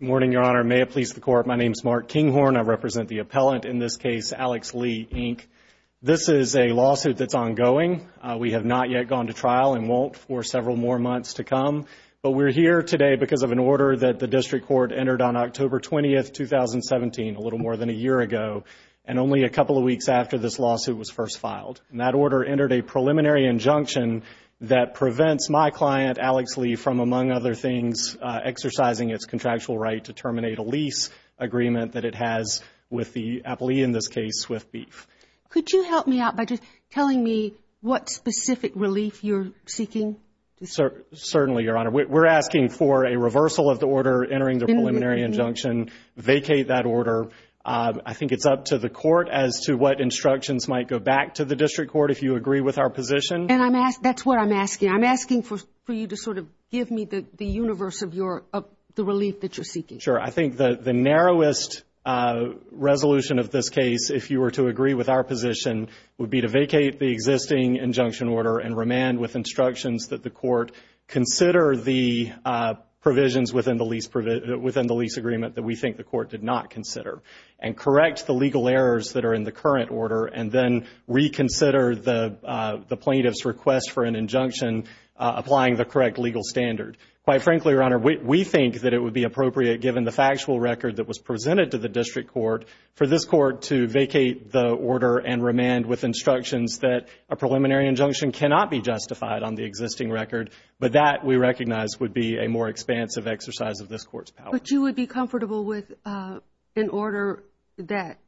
Good morning, Your Honor. May it please the Court, my name is Mark Kinghorn. I represent the appellant in this case, Alex Lee, Inc. This is a lawsuit that's ongoing. We have not yet gone to trial and won't for several more months to come. But we're here today because of an order that the District Court entered on October 20, 2017, a little more than a year ago, and only a couple of weeks after this lawsuit was first filed. And that order entered a preliminary injunction that prevents my client, Alex Lee, from, among other things, exercising its contractual right to terminate a lease agreement that it has with the appellee, in this case, Swift Beef. Could you help me out by just telling me what specific relief you're seeking? Certainly, Your Honor. We're asking for a reversal of the order entering the preliminary injunction, vacate that order. I think it's up to the Court as to what instructions might go back to the District Court if you agree with our position. And that's what I'm asking. I'm asking for you to sort of give me the universe of the relief that you're seeking. Sure. I think the narrowest resolution of this case, if you were to agree with our position, would be to vacate the existing injunction order and remand with instructions that the Court consider the provisions within the lease agreement that we think the Court did not consider, and correct the legal errors that are in the current order, and then reconsider the plaintiff's request for an injunction applying the correct legal standard. Quite frankly, Your Honor, we think that it would be appropriate, given the factual record that was presented to the District Court, for this Court to vacate the order and remand with instructions that a preliminary injunction cannot be justified on the existing record. But that, we recognize, would be a more expansive exercise of this Court's power. But you would be comfortable with an order that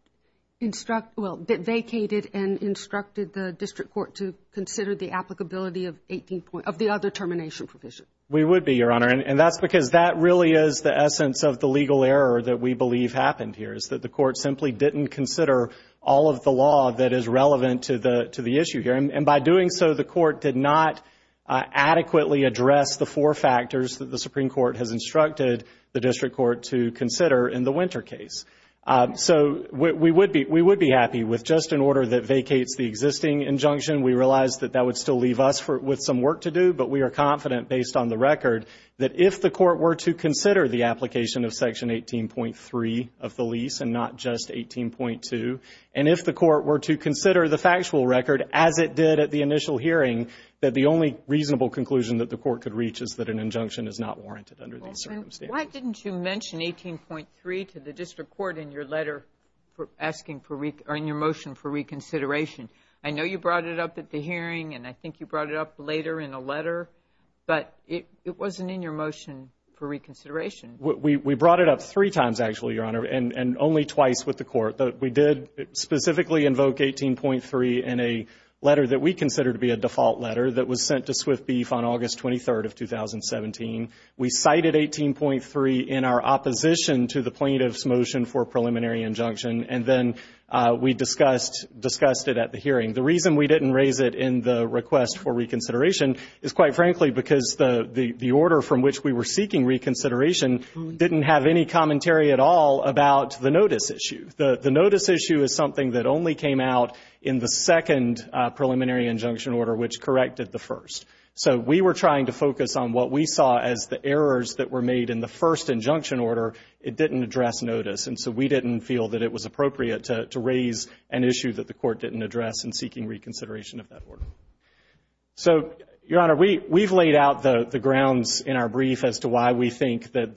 vacated and instructed the District Court to consider the applicability of the other termination provision? We would be, Your Honor. And that's because that really is the essence of the legal error that we believe happened here, is that the Court simply didn't consider all of the law that is relevant to the issue here. And by doing so, the Court did not adequately address the four factors that the Supreme Court has instructed the District Court to consider in the Winter case. So, we would be happy with just an order that vacates the existing injunction. We realize that that would still leave us with some work to do, but we are confident, based on the record, that if the Court were to consider the application of Section 18.3 of the lease, and not just 18.2, and if the Court were to consider the factual record, as it did at the initial hearing, that the only reasonable conclusion that the Court could reach is that an injunction is not warranted under these circumstances. Well, and why didn't you mention 18.3 to the District Court in your letter, asking for, or in your motion for reconsideration? I know you brought it up at the hearing, and I think you brought it up later in a letter, but it wasn't in your motion for reconsideration. We brought it up three times, actually, Your Honor, and only twice with the Court. We did specifically invoke 18.3 in a letter that we consider to be a default letter that was sent to Swift Beef on August 23rd of 2017. We cited 18.3 in our opposition to the plaintiff's motion for preliminary injunction, and then we discussed it at the hearing. The reason we didn't raise it in the request for reconsideration is, quite frankly, because the order from which we were seeking reconsideration didn't have any commentary at all about the notice issue. The notice issue is something that only came out in the second preliminary injunction order, which corrected the first. So we were trying to focus on what we saw as the errors that were made in the first injunction order. It didn't address notice, and so we didn't feel that it was appropriate to raise an issue that the Court didn't address in seeking reconsideration of that order. So, Your Honor, we've laid out the grounds in our brief as to why we think that the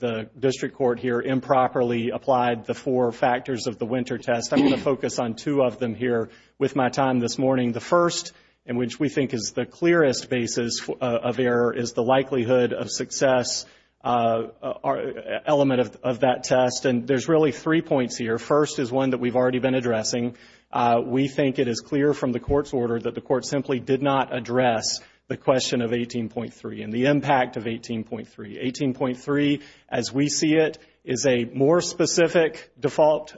two of them here with my time this morning. The first, in which we think is the clearest basis of error, is the likelihood of success element of that test. And there's really three points here. First is one that we've already been addressing. We think it is clear from the Court's order that the Court simply did not address the question of 18.3 and the impact of 18.3. 18.3, as we see it, is a more specific default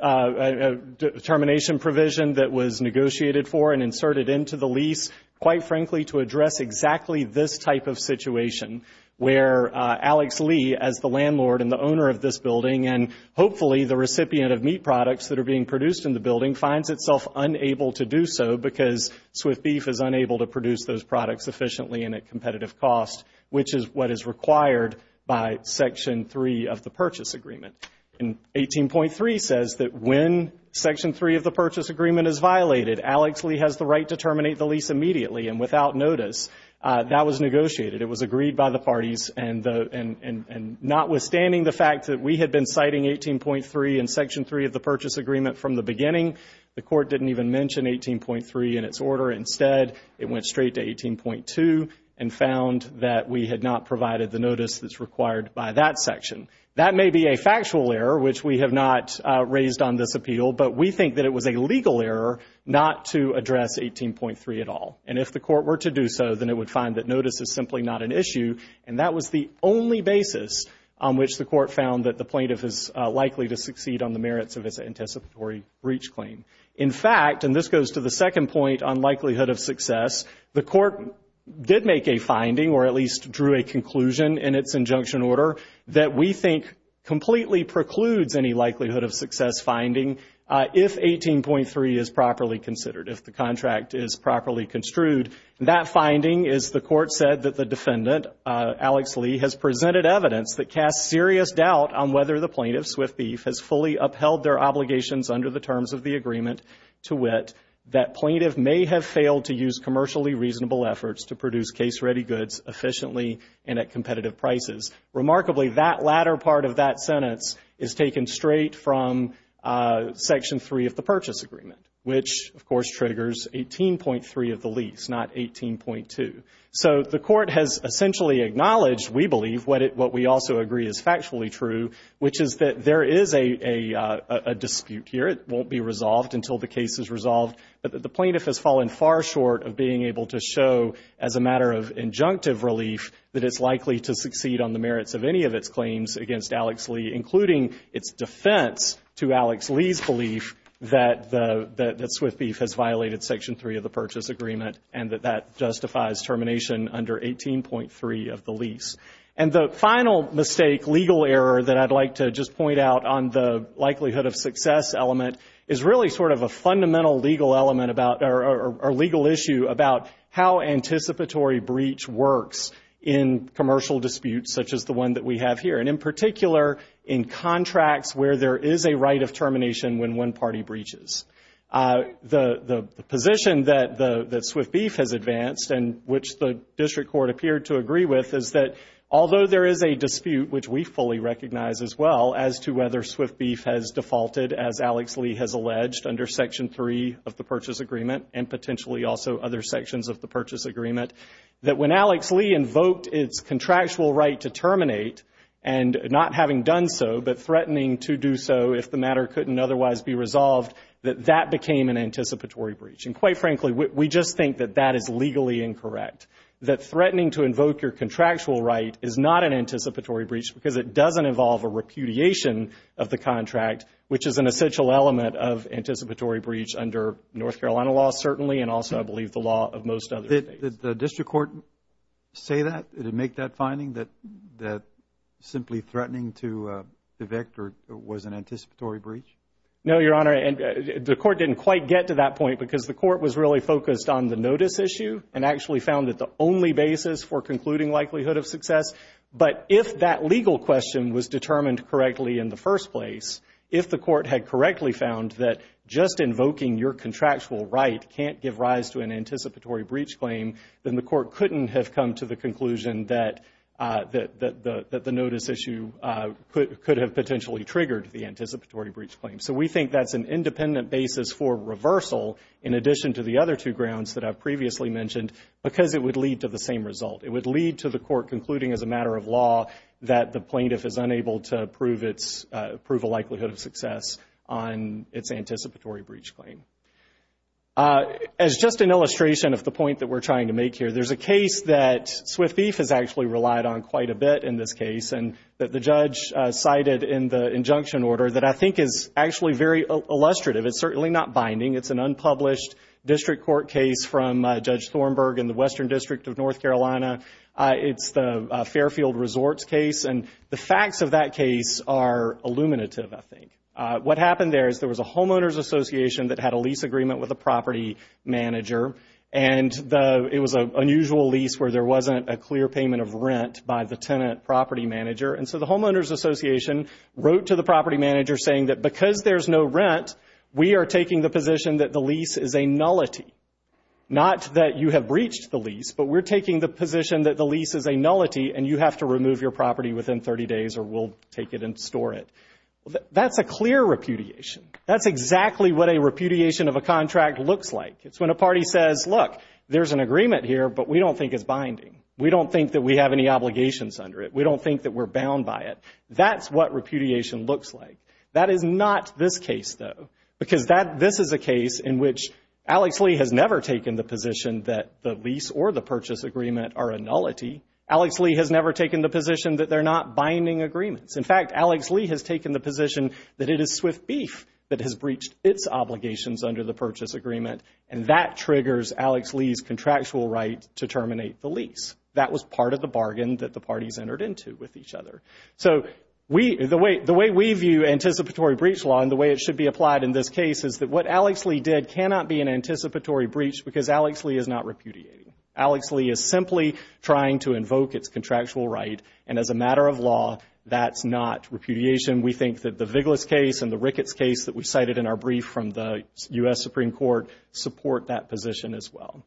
determination provision that was negotiated for and inserted into the lease, quite frankly, to address exactly this type of situation where Alex Lee, as the landlord and the owner of this building, and hopefully the recipient of meat products that are being produced in the building, finds itself unable to do so because Swift Beef is unable to produce those products efficiently and at competitive cost, which is what is required by Section 3 of the Purchase Agreement. And 18.3 says that when Section 3 of the Purchase Agreement is violated, Alex Lee has the right to terminate the lease immediately and without notice. That was negotiated. It was agreed by the parties. And notwithstanding the fact that we had been citing 18.3 in Section 3 of the Purchase Agreement from the beginning, the Court didn't even mention 18.3 in its order. Instead, it went straight to 18.2 and found that we had not provided the notice that's required by that section. That may be a factual error, which we have not raised on this appeal, but we think that it was a legal error not to address 18.3 at all. And if the Court were to do so, then it would find that notice is simply not an issue. And that was the only basis on which the Court found that the plaintiff is likely to succeed on the merits of its anticipatory breach claim. In fact, and this goes to the second point on likelihood of success, the Court did make a finding, or at least drew a conclusion in its injunction order, that we think completely precludes any likelihood of success finding if 18.3 is properly considered, if the contract is properly construed. That finding is the Court said that the defendant, Alex Lee, has presented evidence that casts serious doubt on whether the plaintiff, Swift Beef, has fully upheld their obligations under the terms of the agreement to wit that plaintiff may have failed to use commercially reasonable efforts to produce case-ready goods efficiently and at competitive prices. Remarkably, that latter part of that sentence is taken straight from Section 3 of the Purchase Agreement, which, of course, triggers 18.3 of the lease, not 18.2. So the Court has essentially acknowledged, we believe, what we also agree is factually true, which is that there is a dispute here. It won't be resolved until the case is resolved. But the plaintiff has fallen far short of being able to show, as a matter of injunctive relief, that it's likely to succeed on the merits of any of its claims against Alex Lee, including its defense to Alex Lee's belief that Swift Beef has violated Section 3 of the Purchase Agreement and that that justifies termination under 18.3 of the lease. And the final mistake, legal error, that I'd like to just point out on the likelihood of success element is really sort of a fundamental legal issue about how anticipatory breach works in commercial disputes such as the one that we have here, and in particular, in contracts where there is a right of termination when one party breaches. The position that Swift Beef has advanced and which the District Court appeared to agree with is that although there is a dispute, which we fully recognize as well, as to whether Swift Beef has defaulted, as Alex Lee has alleged, under Section 3 of the Purchase Agreement and potentially also other sections of the Purchase Agreement, that when Alex Lee invoked its contractual right to terminate and not having done so, but threatening to do so if the matter couldn't otherwise be resolved, that that became an anticipatory breach. And quite frankly, we just think that that is legally incorrect, that threatening to invoke your contractual right is not an anticipatory breach because it doesn't involve a repudiation of the contract, which is an essential element of anticipatory breach under North Carolina law, certainly, and also, I believe, the law of most other states. Did the District Court say that? Did it make that finding that simply threatening to evict was an anticipatory breach? No, Your Honor, and the Court didn't quite get to that point because the Court was really focused on the notice issue and actually found that the only basis for concluding likelihood of success, but if that legal question was determined correctly in the first place, if the Court had correctly found that just invoking your contractual right can't give rise to an anticipatory breach claim, then the Court couldn't have come to the conclusion that the notice issue could have potentially triggered the anticipatory basis for reversal in addition to the other two grounds that I've previously mentioned because it would lead to the same result. It would lead to the Court concluding as a matter of law that the plaintiff is unable to prove a likelihood of success on its anticipatory breach claim. As just an illustration of the point that we're trying to make here, there's a case that Swift Thief has actually relied on quite a bit in this case and that the judge cited in the illustrative, it's certainly not binding, it's an unpublished district court case from Judge Thornburg in the Western District of North Carolina. It's the Fairfield Resorts case and the facts of that case are illuminative, I think. What happened there is there was a homeowners association that had a lease agreement with a property manager and it was an unusual lease where there wasn't a clear payment of rent by the tenant property manager and so the homeowners association wrote to the property manager saying that because there's no rent, we are taking the position that the lease is a nullity. Not that you have breached the lease, but we're taking the position that the lease is a nullity and you have to remove your property within 30 days or we'll take it and store it. That's a clear repudiation. That's exactly what a repudiation of a contract looks like. It's when a party says, look, there's an agreement here, but we don't think it's binding. We don't think that we have any obligations under it. We don't think that we're bound by it. That's what repudiation looks like. That is not this case though because this is a case in which Alex Lee has never taken the position that the lease or the purchase agreement are a nullity. Alex Lee has never taken the position that they're not binding agreements. In fact, Alex Lee has taken the position that it is Swift Beef that has breached its obligations under the purchase agreement and that triggers Alex Lee's contractual right to terminate the lease. That was part of the bargain that the parties entered into with each other. So the way we view anticipatory breach law and the way it should be applied in this case is that what Alex Lee did cannot be an anticipatory breach because Alex Lee is not repudiating. Alex Lee is simply trying to invoke its contractual right and as a matter of law, that's not repudiation. We think that the Viglas case and the Ricketts case that we cited in our brief from the U.S. Supreme Court support that position as well.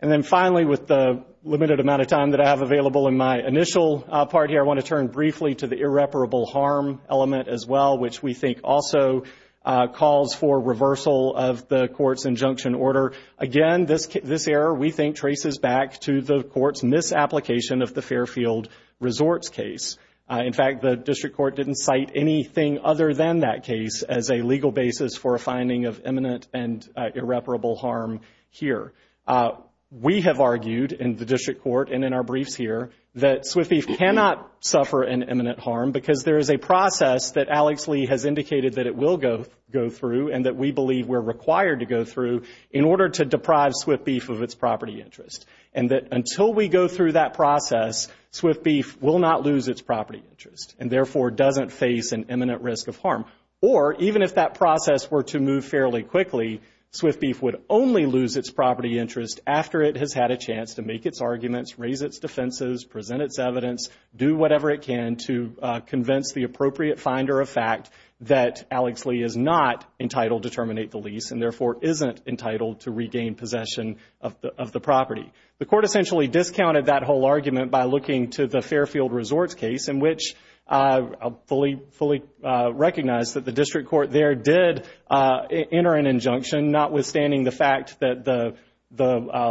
And then finally, with the limited amount of time that I have available in my initial part here, I want to turn briefly to the irreparable harm element as well, which we think also calls for reversal of the court's injunction order. Again, this error we think traces back to the court's misapplication of the Fairfield Resorts case. In fact, the district court didn't cite anything other than that case as a legal basis for a finding of imminent and irreparable harm here. We have argued in the district court and in our briefs here that Swift Beef cannot suffer an imminent harm because there is a process that Alex Lee has indicated that it will go through and that we believe we're required to go through in order to deprive Swift Beef of its property interest. And that until we go through that process, Swift Beef will not lose its property interest and therefore doesn't face an imminent risk of harm. Or even if that process were to move fairly quickly, Swift Beef would only lose its property interest after it has had a chance to make its arguments, raise its defenses, present its evidence, do whatever it can to convince the appropriate finder of fact that Alex Lee is not entitled to terminate the lease and therefore isn't entitled to regain possession of the property. The court essentially discounted whole argument by looking to the Fairfield Resorts case in which I fully recognize that the district court there did enter an injunction notwithstanding the fact that the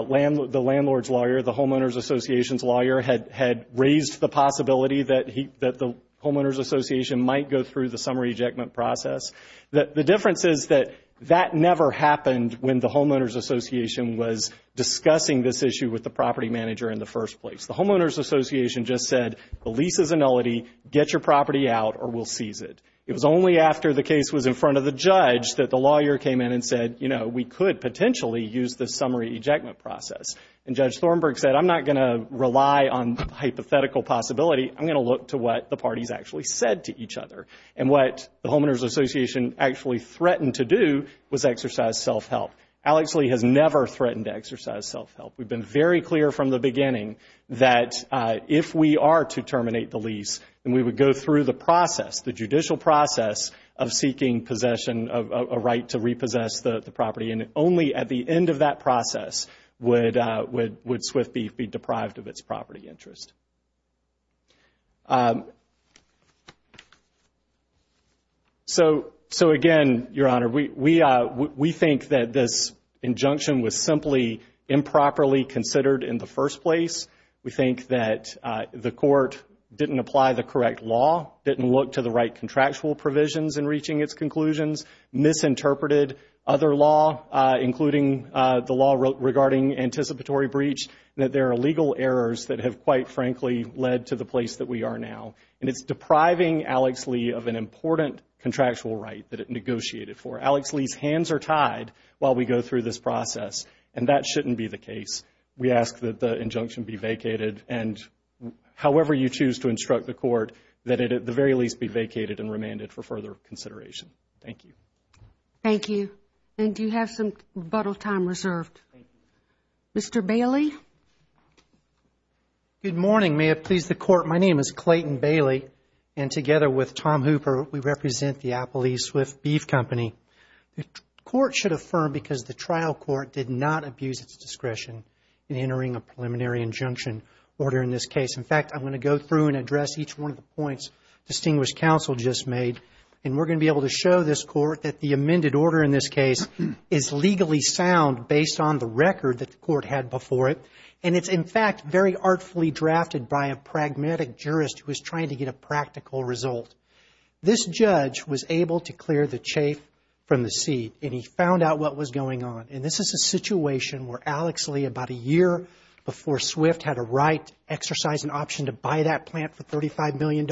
landlord's lawyer, the homeowners association's lawyer, had raised the possibility that the homeowners association might go through the summary ejectment process. The difference is that that never happened when the homeowners association was discussing this issue with the property manager in the first place. The homeowners association just said the lease is a nullity, get your property out or we'll seize it. It was only after the case was in front of the judge that the lawyer came in and said, you know, we could potentially use the summary ejectment process. And Judge Thornburg said, I'm not going to rely on hypothetical possibility, I'm going to look to what the parties actually said to each other. And what the homeowners association actually threatened to do was exercise self-help. Alex Lee has never threatened to exercise self-help. We've been very clear from the beginning that if we are to terminate the lease, then we would go through the process, the judicial process of seeking possession of a right to repossess the property. And only at the end of that process would SWIFT be deprived of its property interest. So, so again, Your Honor, we, we, we think that this injunction was simply improperly considered in the first place. We think that the court didn't apply the correct law, didn't look to the right contractual provisions in reaching its conclusions, misinterpreted other law, including the law regarding anticipatory breach, that there are legal errors that have quite frankly, led to the place that we are now. And it's depriving Alex Lee of an important contractual right that it negotiated for. Alex Lee's hands are tied while we go through this process. And that shouldn't be the case. We ask that the injunction be vacated and however you choose to instruct the court, that it at the very least be vacated and remanded for further consideration. Thank you. Thank you. And do you have some rebuttal time reserved? Mr. Bailey. Good morning. May it please the court. My name is Clayton Bailey and together with Tom Hooper, we represent the Applebee's Swift Beef Company. The court should affirm because the trial court did not abuse its discretion in entering a preliminary injunction order in this case. In fact, I'm going to go through and address each one of the points distinguished counsel just made. And we're going to be able to show this court that the amended order in this case is legally sound based on the record that the court had before it. And it's in fact, very artfully drafted by a pragmatic jurist who was trying to get a practical result. This judge was able to clear the chafe from the seed and he found out what was going on. And this is a situation where Alex Lee about a year before Swift had a right exercise an option to buy that plant for $35 million,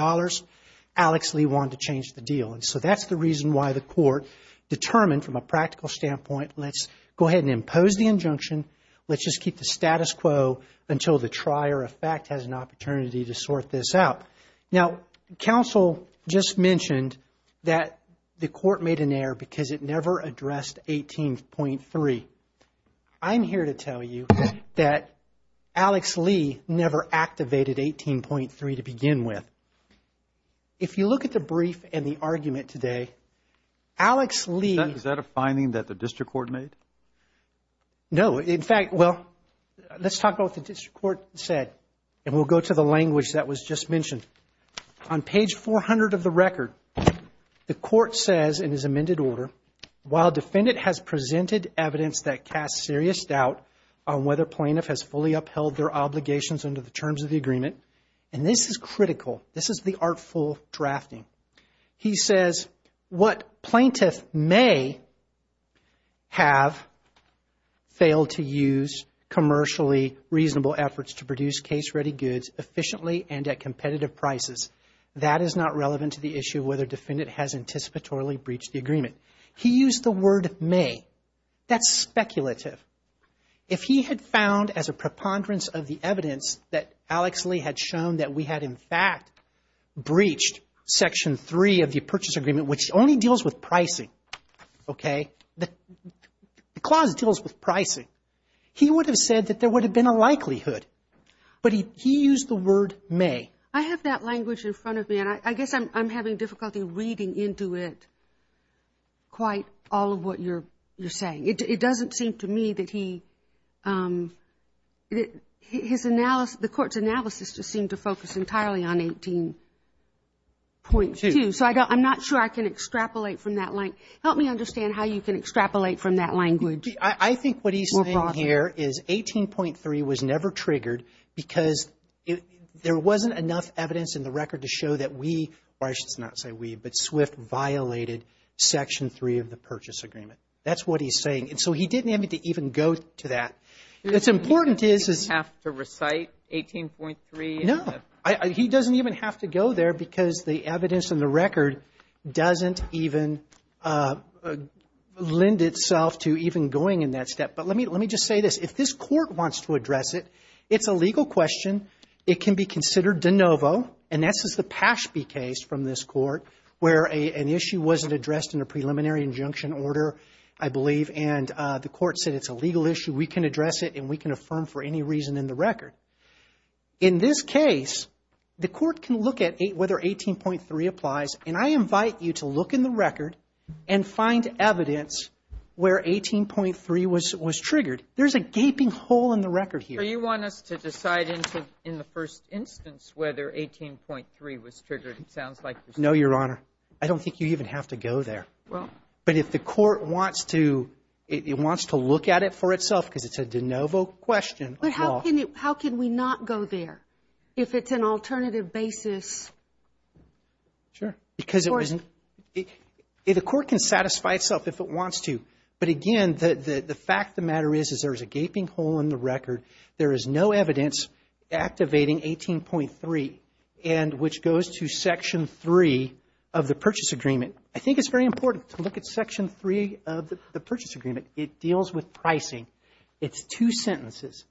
Alex Lee wanted to change the deal. And so that's the reason why the court determined from a practical standpoint, let's go ahead and impose the injunction. Let's just keep the status quo until the trier of fact has an opportunity to sort this out. Now, counsel just mentioned that the court made an error because it never addressed 18.3. I'm here to tell you that Alex Lee never activated 18.3 to begin with. If you look at the brief and the argument today, Alex Lee. Is that a finding that the district court made? No. In fact, well, let's talk about what the district court said and we'll go to the language that was just mentioned. On page 400 of the record, the court says in his amended order, while defendant has presented evidence that casts serious doubt on whether plaintiff has fully This is the artful drafting. He says what plaintiff may have failed to use commercially reasonable efforts to produce case-ready goods efficiently and at competitive prices. That is not relevant to the issue of whether defendant has anticipatorily breached the agreement. He used the word may. That's speculative. If he had found as a preponderance of the evidence that Alex Lee had shown that we had in fact breached section three of the purchase agreement, which only deals with pricing. Okay. The clause deals with pricing. He would have said that there would have been a likelihood, but he used the word may. I have that language in front of me and I guess I'm having difficulty reading into it quite all of what you're saying. It doesn't seem to me that he, his analysis, the court's analysis just seemed to focus entirely on 18.2. So I'm not sure I can extrapolate from that language. Help me understand how you can extrapolate from that language. I think what he's saying here is 18.3 was never triggered because there wasn't enough evidence in the record to show that we, or I should not say we, but Swift violated section three of the purchase agreement. That's what he's saying. And so he didn't have to even go to that. What's important is, is he didn't have to recite 18.3? No. He doesn't even have to go there because the evidence in the record doesn't even lend itself to even going in that step. But let me, let me just say this. If this Court wants to address it, it's a legal question. It can be considered de novo, and this is the Pashby case from this Court, where an issue wasn't addressed in a preliminary injunction order, I believe, and the Court said it's a legal issue. We can address it and we can affirm for any reason in the record. In this case, the Court can look at whether 18.3 applies, and I invite you to look in the record and find evidence where 18.3 was triggered. There's a gaping hole in the record here. So you want us to decide into, in the first instance, whether 18.3 was triggered? It sounds like you're saying. No, Your Honor. I don't think you even have to go there. Well. But if the Court wants to, it wants to look at it for itself because it's a de novo question. But how can it, how can we not go there if it's an alternative basis? Sure. Because it wasn't, the Court can satisfy itself if it wants to. But again, the fact of the matter is, is there's a gaping hole in the record. There is no evidence activating 18.3, and which goes to Section 3 of the Purchase Agreement. I think it's very important to look at Section 3 of the Purchase Agreement. It deals with pricing. It's two sentences.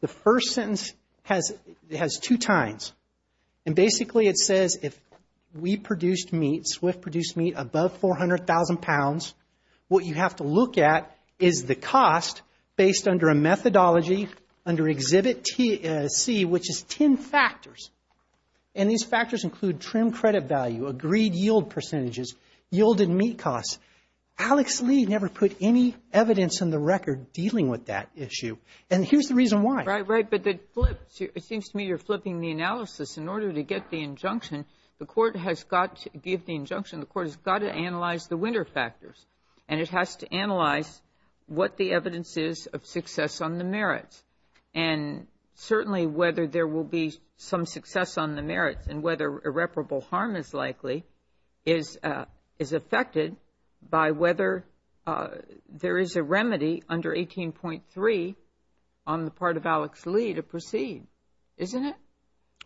The first sentence has, it has two tines. And basically, it says if we produced meat, SWIFT produced meat above 400,000 pounds, what you have to look at is the cost based under a methodology under Exhibit C, which is 10 factors. And these factors include trim credit value, agreed yield percentages, yielded meat costs. Alex Lee never put any evidence in the record dealing with that issue. And here's the reason why. Right, right. But it flips, it seems to me you're flipping the analysis. In order to get the injunction, the Court has got to give the injunction, the Court has got to analyze the winner factors. And it has to analyze what the evidence is of success on the merits. And certainly, whether there will be some success on the merits and whether irreparable harm is likely is affected by whether there is a remedy under 18.3 on the part of Alex Lee to proceed, isn't it?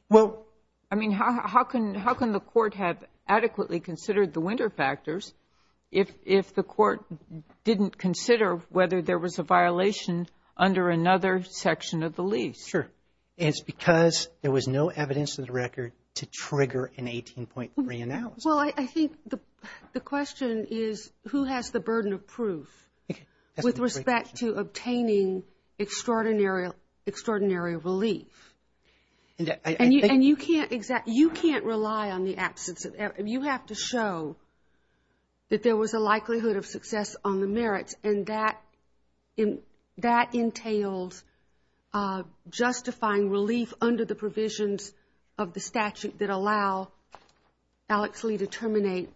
Well, I mean, how can the Court have adequately considered the winner factors if the Court didn't consider whether there was a violation under another section of the lease? Sure. It's because there was no evidence in the record to trigger an 18.3 analysis. Well, I think the question is who has the burden of proof with respect to obtaining extraordinary relief? And you can't rely on the absence of evidence. You have to show that there was a likelihood of success on the merits and that entailed justifying relief under the provisions of the statute that allow Alex Lee to terminate.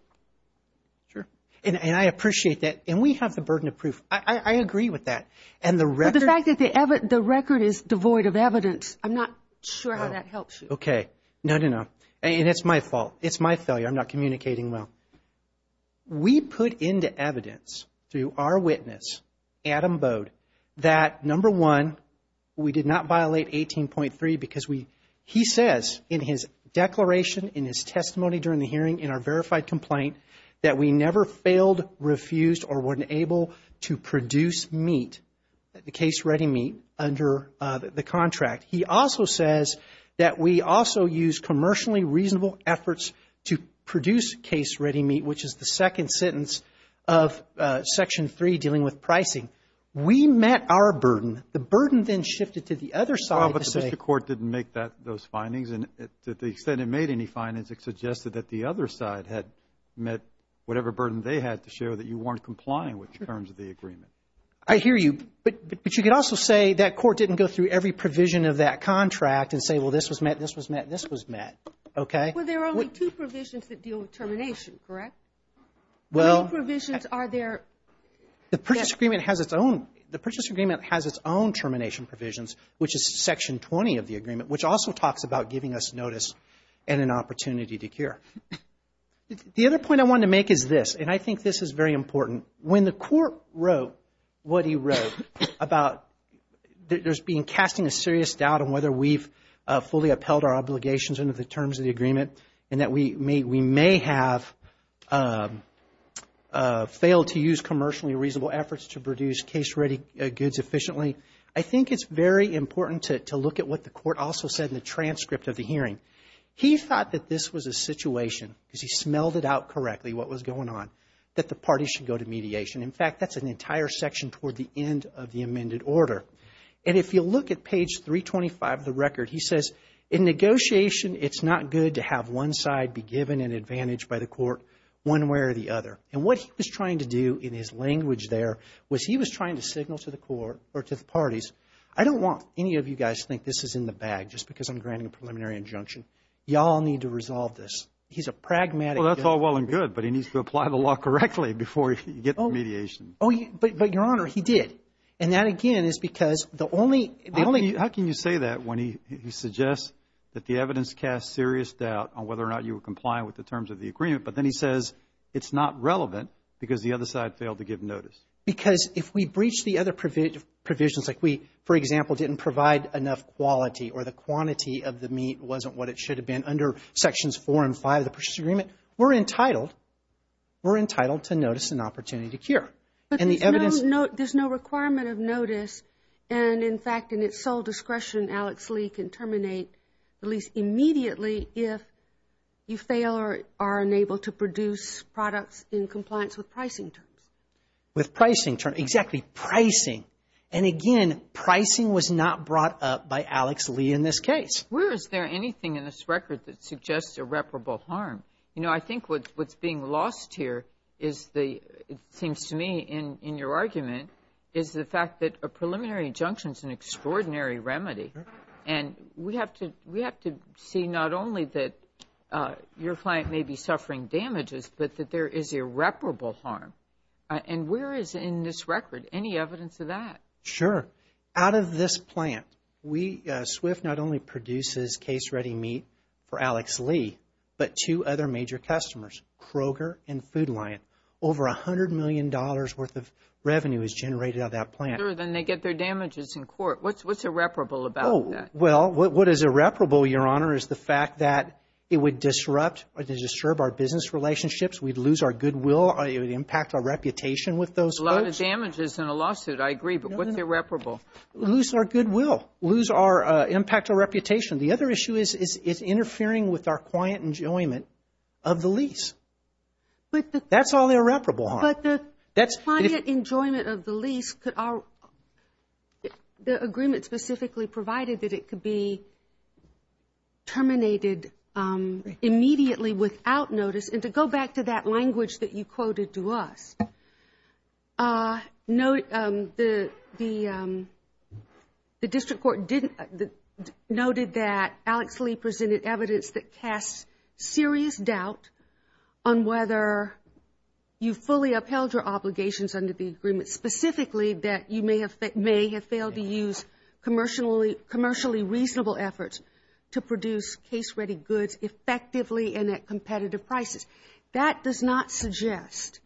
Sure. And I appreciate that. And we have the burden of proof. I agree with that. But the fact that the record is devoid of evidence, I'm not sure how that helps you. Okay. No, no, no. And it's my fault. It's my failure. I'm not communicating well. We put into evidence through our witness, Adam Bode, that number one, we did not violate 18.3 because he says in his declaration, in his testimony during the hearing, in our verified complaint, that we never failed, refused, or weren't able to produce meat, the case-ready meat, under the contract. He also says that we also used commercially reasonable efforts to produce case-ready meat, which is the second sentence of Section 3 dealing with pricing. We met our burden. The burden then shifted to the other side to say — Well, but the district court didn't make that, those findings. And to the extent it made any had met whatever burden they had to show that you weren't complying with terms of the agreement. I hear you. But you could also say that court didn't go through every provision of that contract and say, well, this was met, this was met, this was met. Okay? Well, there are only two provisions that deal with termination, correct? Well — Two provisions are there — The Purchase Agreement has its own — the Purchase Agreement has its own termination provisions, which is Section 20 of the agreement, which also talks about giving us notice and an opportunity to cure. The other point I wanted to make is this, and I think this is very important. When the court wrote what he wrote about there's been casting a serious doubt on whether we've fully upheld our obligations under the terms of the agreement and that we may have failed to use commercially reasonable efforts to produce case-ready goods efficiently, I think it's very important to look at what the court also said in the transcript of the hearing. He thought that this was a situation, because he smelled it out correctly what was going on, that the parties should go to mediation. In fact, that's an entire section toward the end of the amended order. And if you look at page 325 of the record, he says, in negotiation, it's not good to have one side be given an advantage by the court one way or the other. And what he was trying to do in his language there was he was trying to signal to the court or to the parties, I don't want any of you guys to think this is in the bag just because I'm granting a preliminary injunction. Y'all need to resolve this. He's a pragmatic. Well, that's all well and good, but he needs to apply the law correctly before he gets mediation. Oh, but Your Honor, he did. And that, again, is because the only, the only. How can you say that when he suggests that the evidence casts serious doubt on whether or not you were compliant with the terms of the agreement, but then he says it's not relevant because the other side failed to give notice. Because if we breach the other provisions, like we, for example, didn't provide enough quality or the quantity of the meat wasn't what it should have been under Sections 4 and 5 of the Purchase Agreement, we're entitled, we're entitled to notice and opportunity to cure. But there's no requirement of notice and, in fact, in its sole discretion, Alex Lee can terminate the lease immediately if you fail or are unable to produce products in compliance with pricing terms. With pricing terms. Exactly. Pricing. And, again, pricing was not brought up by Alex Lee in this case. Where is there anything in this record that suggests irreparable harm? You know, I think what's being lost here is the, it seems to me in your argument, is the fact that a preliminary injunction is an extraordinary remedy. And we have to, we have to see not only that your client may be suffering damages, but that there is irreparable harm. And where is in this record any evidence of that? Sure. Out of this plant, we, SWIFT not only produces case-ready meat for Alex Lee, but two other major customers, Kroger and Food Lion. Over a hundred million dollars worth of revenue is generated out of that plant. Sure, then they get their damages in court. What's irreparable about that? Oh, well, what is irreparable, Your Honor, is the fact that it would disrupt or disturb our business relationships. We'd lose our goodwill. It would impact our reputation with those folks. A lot of damages in a lawsuit, I agree, but what's irreparable? Lose our goodwill. Lose our, impact our reputation. The other issue is it's interfering with our quiet enjoyment of the lease. That's all irreparable harm. But the climate enjoyment of the lease, could our, the agreement specifically provided that it could be terminated immediately without notice? And to go back to that language that you quoted to us, the district court noted that Alex Lee presented evidence that casts serious doubt on whether you fully upheld your obligations under the agreement, specifically that you may have, may have failed to use commercially, commercially reasonable efforts to produce case-ready goods effectively and at competitive prices. That does not suggest,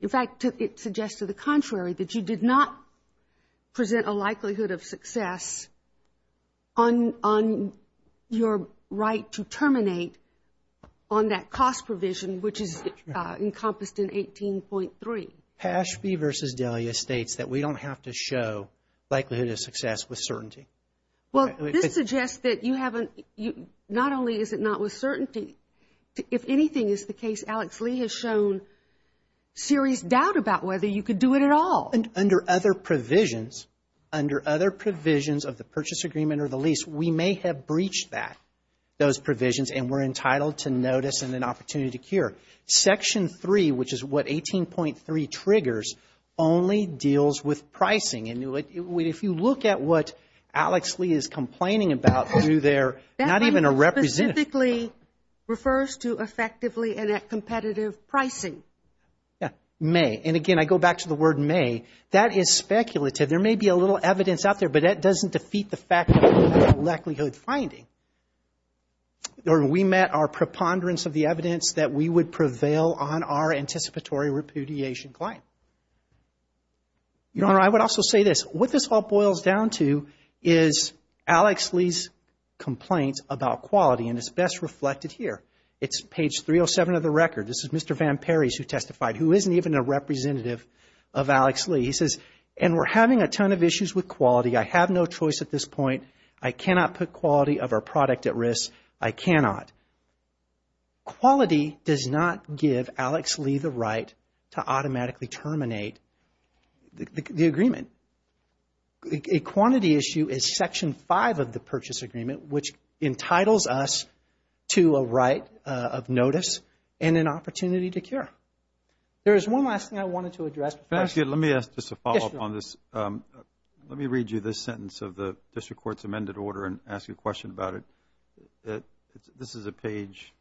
in fact, it suggests to the contrary, that you did not present a likelihood of success on, on your right to terminate on that cost provision, which is encompassed in 18.3. Pashby v. Delia states that we don't have to show likelihood of success with certainty. Well, this suggests that you haven't, not only is it not with certainty, if anything is the case, Alex Lee has shown serious doubt about whether you could do it at all. And under other provisions, under other provisions of the purchase agreement or the lease, we may have breached that, those provisions, and we're entitled to notice and an opportunity to cure. Section 3, which is what 18.3 triggers, only deals with pricing. And if you look at what Alex Lee is complaining about, do their, not even a representative. That line specifically refers to effectively and at competitive pricing. Yeah, may. And again, I go back to the word may. That is speculative. There may be a little evidence out there, but that doesn't defeat the fact that we have a likelihood finding. Or we met our preponderance of the evidence that we would prevail on our anticipatory repudiation claim. Your Honor, I would also say this. What this all boils down to is Alex Lee's complaints about quality, and it's best reflected here. It's page 307 of the record. This is Mr. Van Parys who testified, who isn't even a representative of Alex Lee. He says, and we're having a ton of issues with quality. I have no choice at this point. I cannot put quality of our product at risk. I cannot. Quality does not give Alex Lee the right to automatically terminate the agreement. A quantity issue is Section 5 of the purchase agreement, which entitles us to a right of notice and an opportunity to cure. There is one last thing I wanted to address. Let me ask just a follow-up on this. Let me read you this sentence of the district court's amended order and ask you a question about it. This is a page.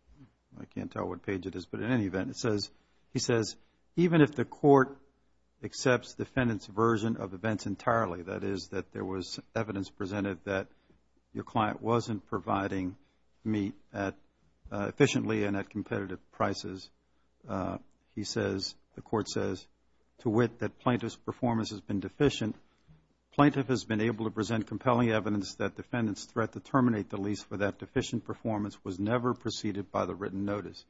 I can't tell what page it is, but in any event, it says, he says, even if the court accepts defendant's version of events entirely, that is that there was evidence presented that your client wasn't providing meat efficiently and at competitive prices. He says, the court says, to wit that plaintiff's performance has been deficient. Plaintiff has been able to present compelling evidence that defendant's threat to terminate the lease for that deficient performance was never preceded by the written notice.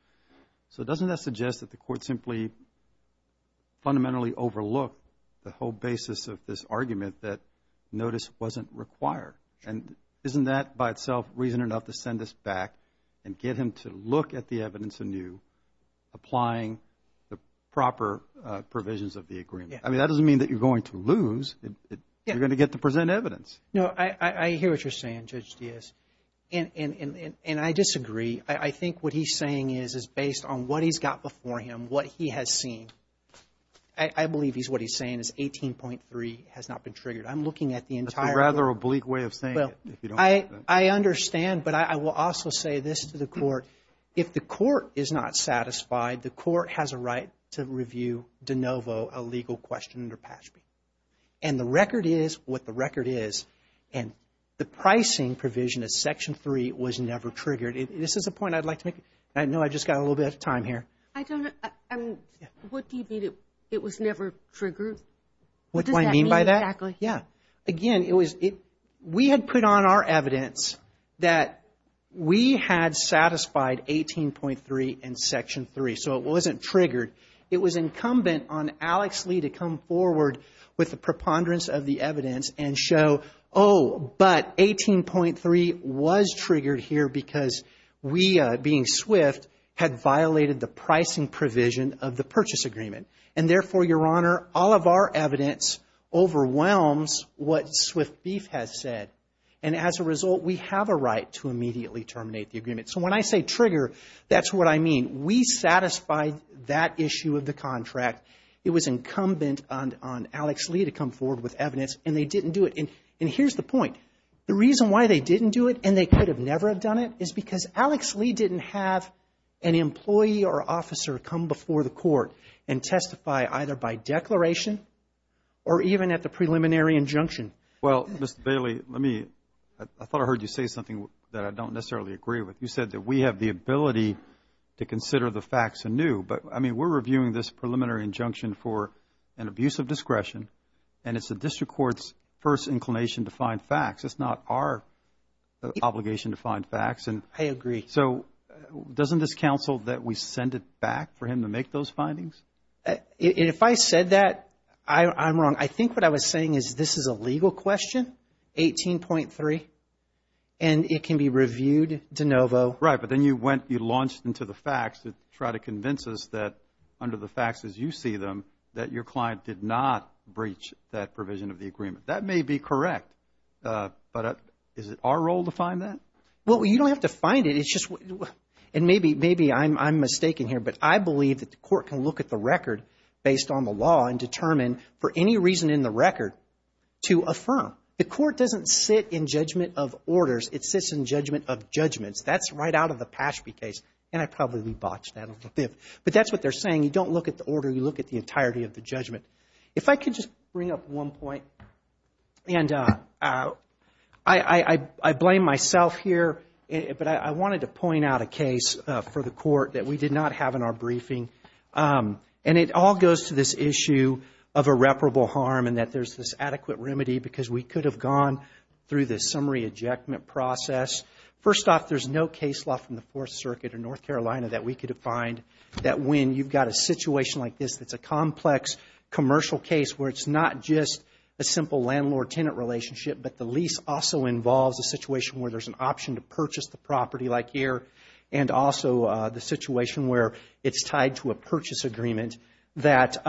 So doesn't that suggest that the court simply fundamentally overlooked the whole basis of this argument that notice wasn't required? And isn't that by itself reason enough to send us back and get him to look at the evidence anew, applying the proper provisions of the agreement? I mean, that doesn't mean that you're going to lose. You're going to get to present evidence. No, I hear what you're saying, Judge Diaz. And I disagree. I think what he's saying is, is based on what he's got before him, what he has seen, I believe he's, what he's saying is 18.3 has not been triggered. I'm looking at the entire. That's a rather oblique way of saying it. I understand, but I will also say this to the court. If the court is not satisfied, the court has a right to review de novo a legal question under PASB. And the record is what the record is. And the pricing provision of Section 3 was never triggered. This is a point I'd like to make. I know I just got a little bit of time here. I don't know. What do you mean it was never triggered? What do I mean by that? Exactly. Yeah. Again, it was, we had put on our evidence that we had satisfied 18.3 in Section 3, so it wasn't triggered. It was incumbent on Alex Lee to come forward with a preponderance of the evidence and show, oh, but 18.3 was triggered here because we, being swift, had violated the pricing provision of the purchase agreement. And therefore, Your Honor, all of our evidence overwhelms what Swift Beef has said. And as a result, we have a right to immediately terminate the agreement. So when I say trigger, that's what I mean. We satisfied that issue of the contract. It was incumbent on Alex Lee to come forward with evidence, and they didn't do it. And here's the point. The reason why they didn't do it, and they could have never have done it, is because Alex Lee didn't have an employee or officer come before the court and testify either by declaration or even at the preliminary injunction. Well, Mr. Bailey, let me, I thought I heard you say something that I don't necessarily agree with. You said that we have the ability to consider the facts anew. But, I mean, we're reviewing this preliminary injunction for an abuse of discretion, and it's the district court's first inclination to find facts. It's not our obligation to find facts. I agree. So doesn't this counsel that we send it back for him to make those findings? If I said that, I'm wrong. I think what I was saying is this is a legal question, 18.3, and it can be reviewed de novo. Right. But then you went, you launched into the facts to try to convince us that under the facts as you see them, that your client did not breach that provision of the agreement. That may be correct, but is it our role to find that? Well, you don't have to find it. It's just, and maybe I'm mistaken here, but I believe that the court can look at the record based on the law and determine for any reason in the record to affirm. The court doesn't sit in judgment of orders. It sits in judgment of judgments. That's right out of the Pashby case, and I probably botched that a little bit. But that's what they're saying. You don't look at the order. You look at the entirety of the judgment. If I could just bring up one point, and I blame myself here, but I wanted to point out a case for the court that we did not have in our briefing, and it all goes to this issue of irreparable harm and that there's this adequate remedy because we could have gone through the summary ejectment process. First off, there's no case law from the Fourth Circuit in North Carolina that we could have find that when you've got a situation like this that's a complex commercial case where it's not just a simple landlord-tenant relationship but the lease also involves a situation where there's an option to purchase the property like here and also the situation where it's tied to a purchase agreement that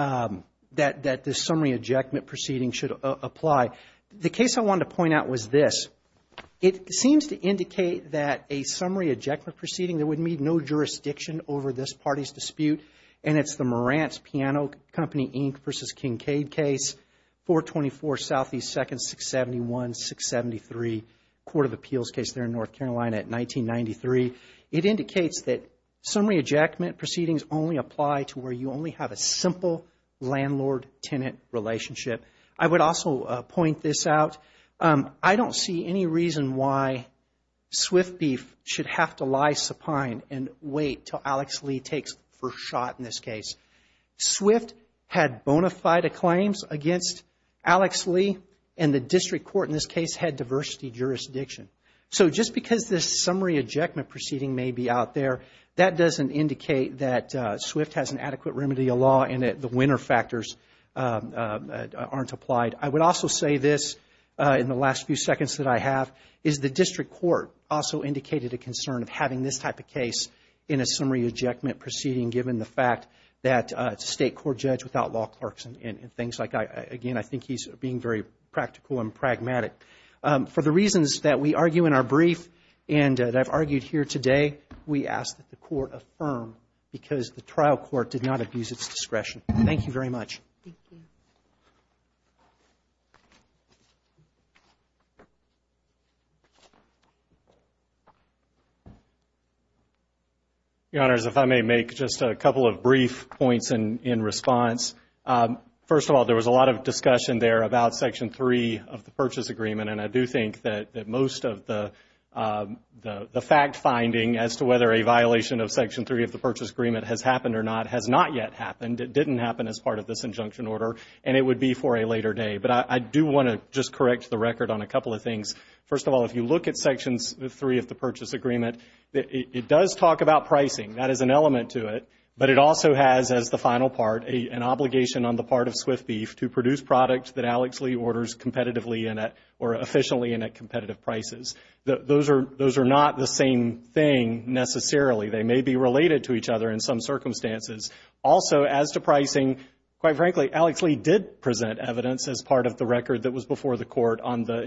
the summary ejectment proceeding should apply. The case I wanted to point out was this. It seems to indicate that a summary ejectment proceeding, there would need no jurisdiction over this Morant's Piano Company, Inc. v. Kincaid case, 424 Southeast 2nd, 671-673, Court of Appeals case there in North Carolina at 1993. It indicates that summary ejectment proceedings only apply to where you only have a simple landlord-tenant relationship. I would also point this out. I don't see any reason why Swift Beef should have to lie supine and wait till Alex Lee takes the first shot in this case. Swift had bona fide claims against Alex Lee and the district court in this case had diversity jurisdiction. So just because this summary ejectment proceeding may be out there, that doesn't indicate that Swift has an adequate remedy of law and that the winner factors aren't applied. I would also say this in the last few seconds that I have is the district court also indicated a concern of this type of case in a summary ejectment proceeding given the fact that it's a state court judge without law clerks and things like that. Again, I think he's being very practical and pragmatic. For the reasons that we argue in our brief and that I've argued here today, we ask that the court affirm because the trial court did not abuse its discretion. Thank you very much. Your Honors, if I may make just a couple of brief points in response. First of all, there was a lot of discussion there about Section 3 of the Purchase Agreement and I do think that most of the fact finding as to whether a violation of Section 3 of the Purchase Agreement has happened or not has not yet happened. It didn't happen as part of this injunction order and it would be for a later day. But I do want to just correct the record on a couple of things. First of all, if you look at Sections 3 of the Purchase Agreement, it does talk about pricing. That is an element to it. But it also has as the final part an obligation on the part of Swift Beef to produce product that Alex Lee orders competitively or efficiently and at competitive prices. Those are not the same thing necessarily. They may be related to each other in some circumstances. Also, as to pricing, quite frankly, Alex Lee did present evidence as part of the record that was before the court on the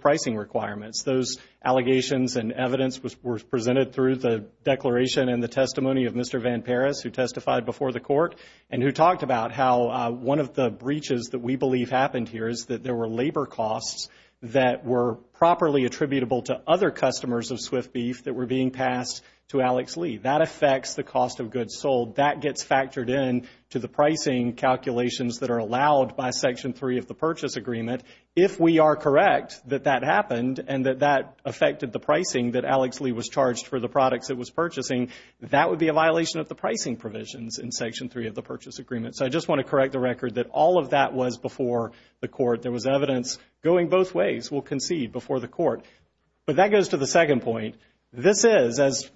pricing requirements. Those allegations and evidence were presented through the declaration and the testimony of Mr. Van Peris who testified before the court and who talked about how one of the breaches that we believe happened here is that there were labor costs that were properly attributable to other customers of Swift Beef that were being passed to Alex Lee. That affects the cost of goods sold. That gets factored in to the pricing calculations that are allowed by Section 3 of the Purchase Agreement. If we are correct that that happened and that that affected the pricing that Alex Lee was charged for the products it was purchasing, that would be a violation of the pricing provisions in Section 3 of the Purchase Agreement. So I just want to correct the record that all of that was before the court. There was evidence going both ways. We'll concede before the court. But that goes to the second point. This is, as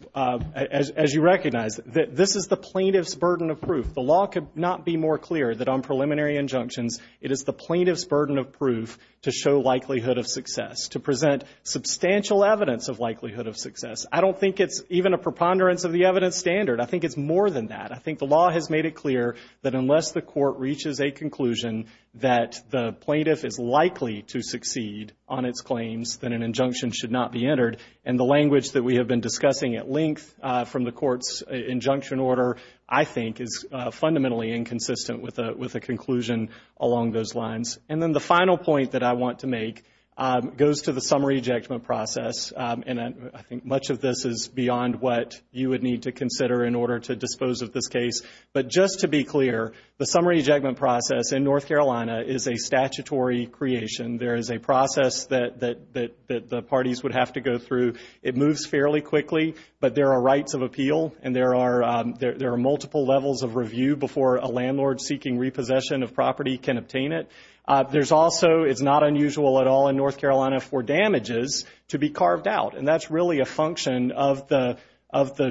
you recognize, this is the plaintiff's burden of proof. The law could not be more clear that on preliminary injunctions, it is the plaintiff's burden of proof to show likelihood of success, to present substantial evidence of likelihood of success. I don't think it's even a preponderance of the evidence standard. I think it's more than that. I think the law has made it clear that unless the court reaches a conclusion that the plaintiff is likely to succeed on its claims, then an injunction should not be entered. And the language that we have been discussing at length from the court's injunction order, I think, is fundamentally inconsistent with the conclusion along those lines. And then the final point that I want to make goes to the summary ejection process. And I think much of this is beyond what you would need to consider in order to dispose of this case. But just to be clear, the summary ejection process in North Carolina is a statutory creation. There is a process that the parties would have to go through. It moves fairly quickly, but there are rights of appeal and there are multiple levels of review before a landlord seeking repossession of property can obtain it. There's also, it's not unusual at all in North Carolina for damages to be carved out. And that's really a function of the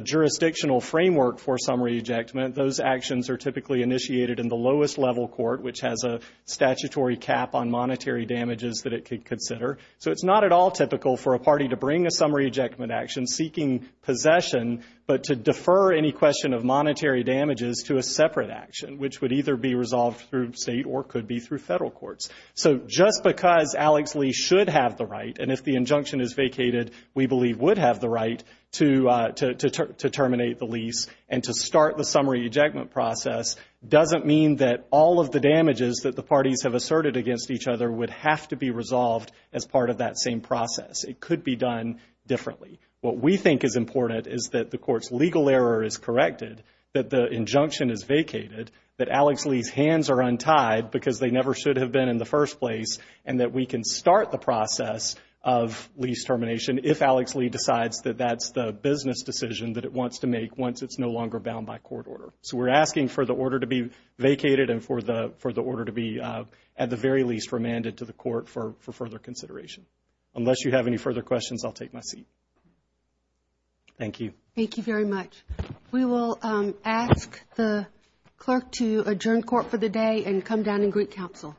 jurisdictional framework for summary ejection. Those actions are typically initiated in the lowest level court, which has a statutory cap on monetary damages that it could consider. So it's not at all typical for a party to bring a summary ejection action seeking possession, but to defer any question of monetary damages to a separate action, which would either be resolved through state or could be through federal courts. So just because Alex Lee should have the right, and if the injunction is vacated, we believe would have the right to terminate the lease and to start the summary ejection process doesn't mean that all of the damages that the parties have asserted against each other would have to be resolved as part of that same process. It could be done differently. What we think is important is that the court's legal error is corrected, that the injunction is vacated, that Alex Lee's hands are untied because they never should have been in the first place, and that we can start the process of lease termination if Alex Lee decides that that's the business decision that it wants to make once it's no longer bound by court order. So we're asking for the order to be vacated and for the order to be at the very least remanded to the court for further consideration. Unless you have any further questions, I'll take my seat. Thank you. Thank you very much. We will ask the clerk to adjourn court for the day and come down and greet counsel.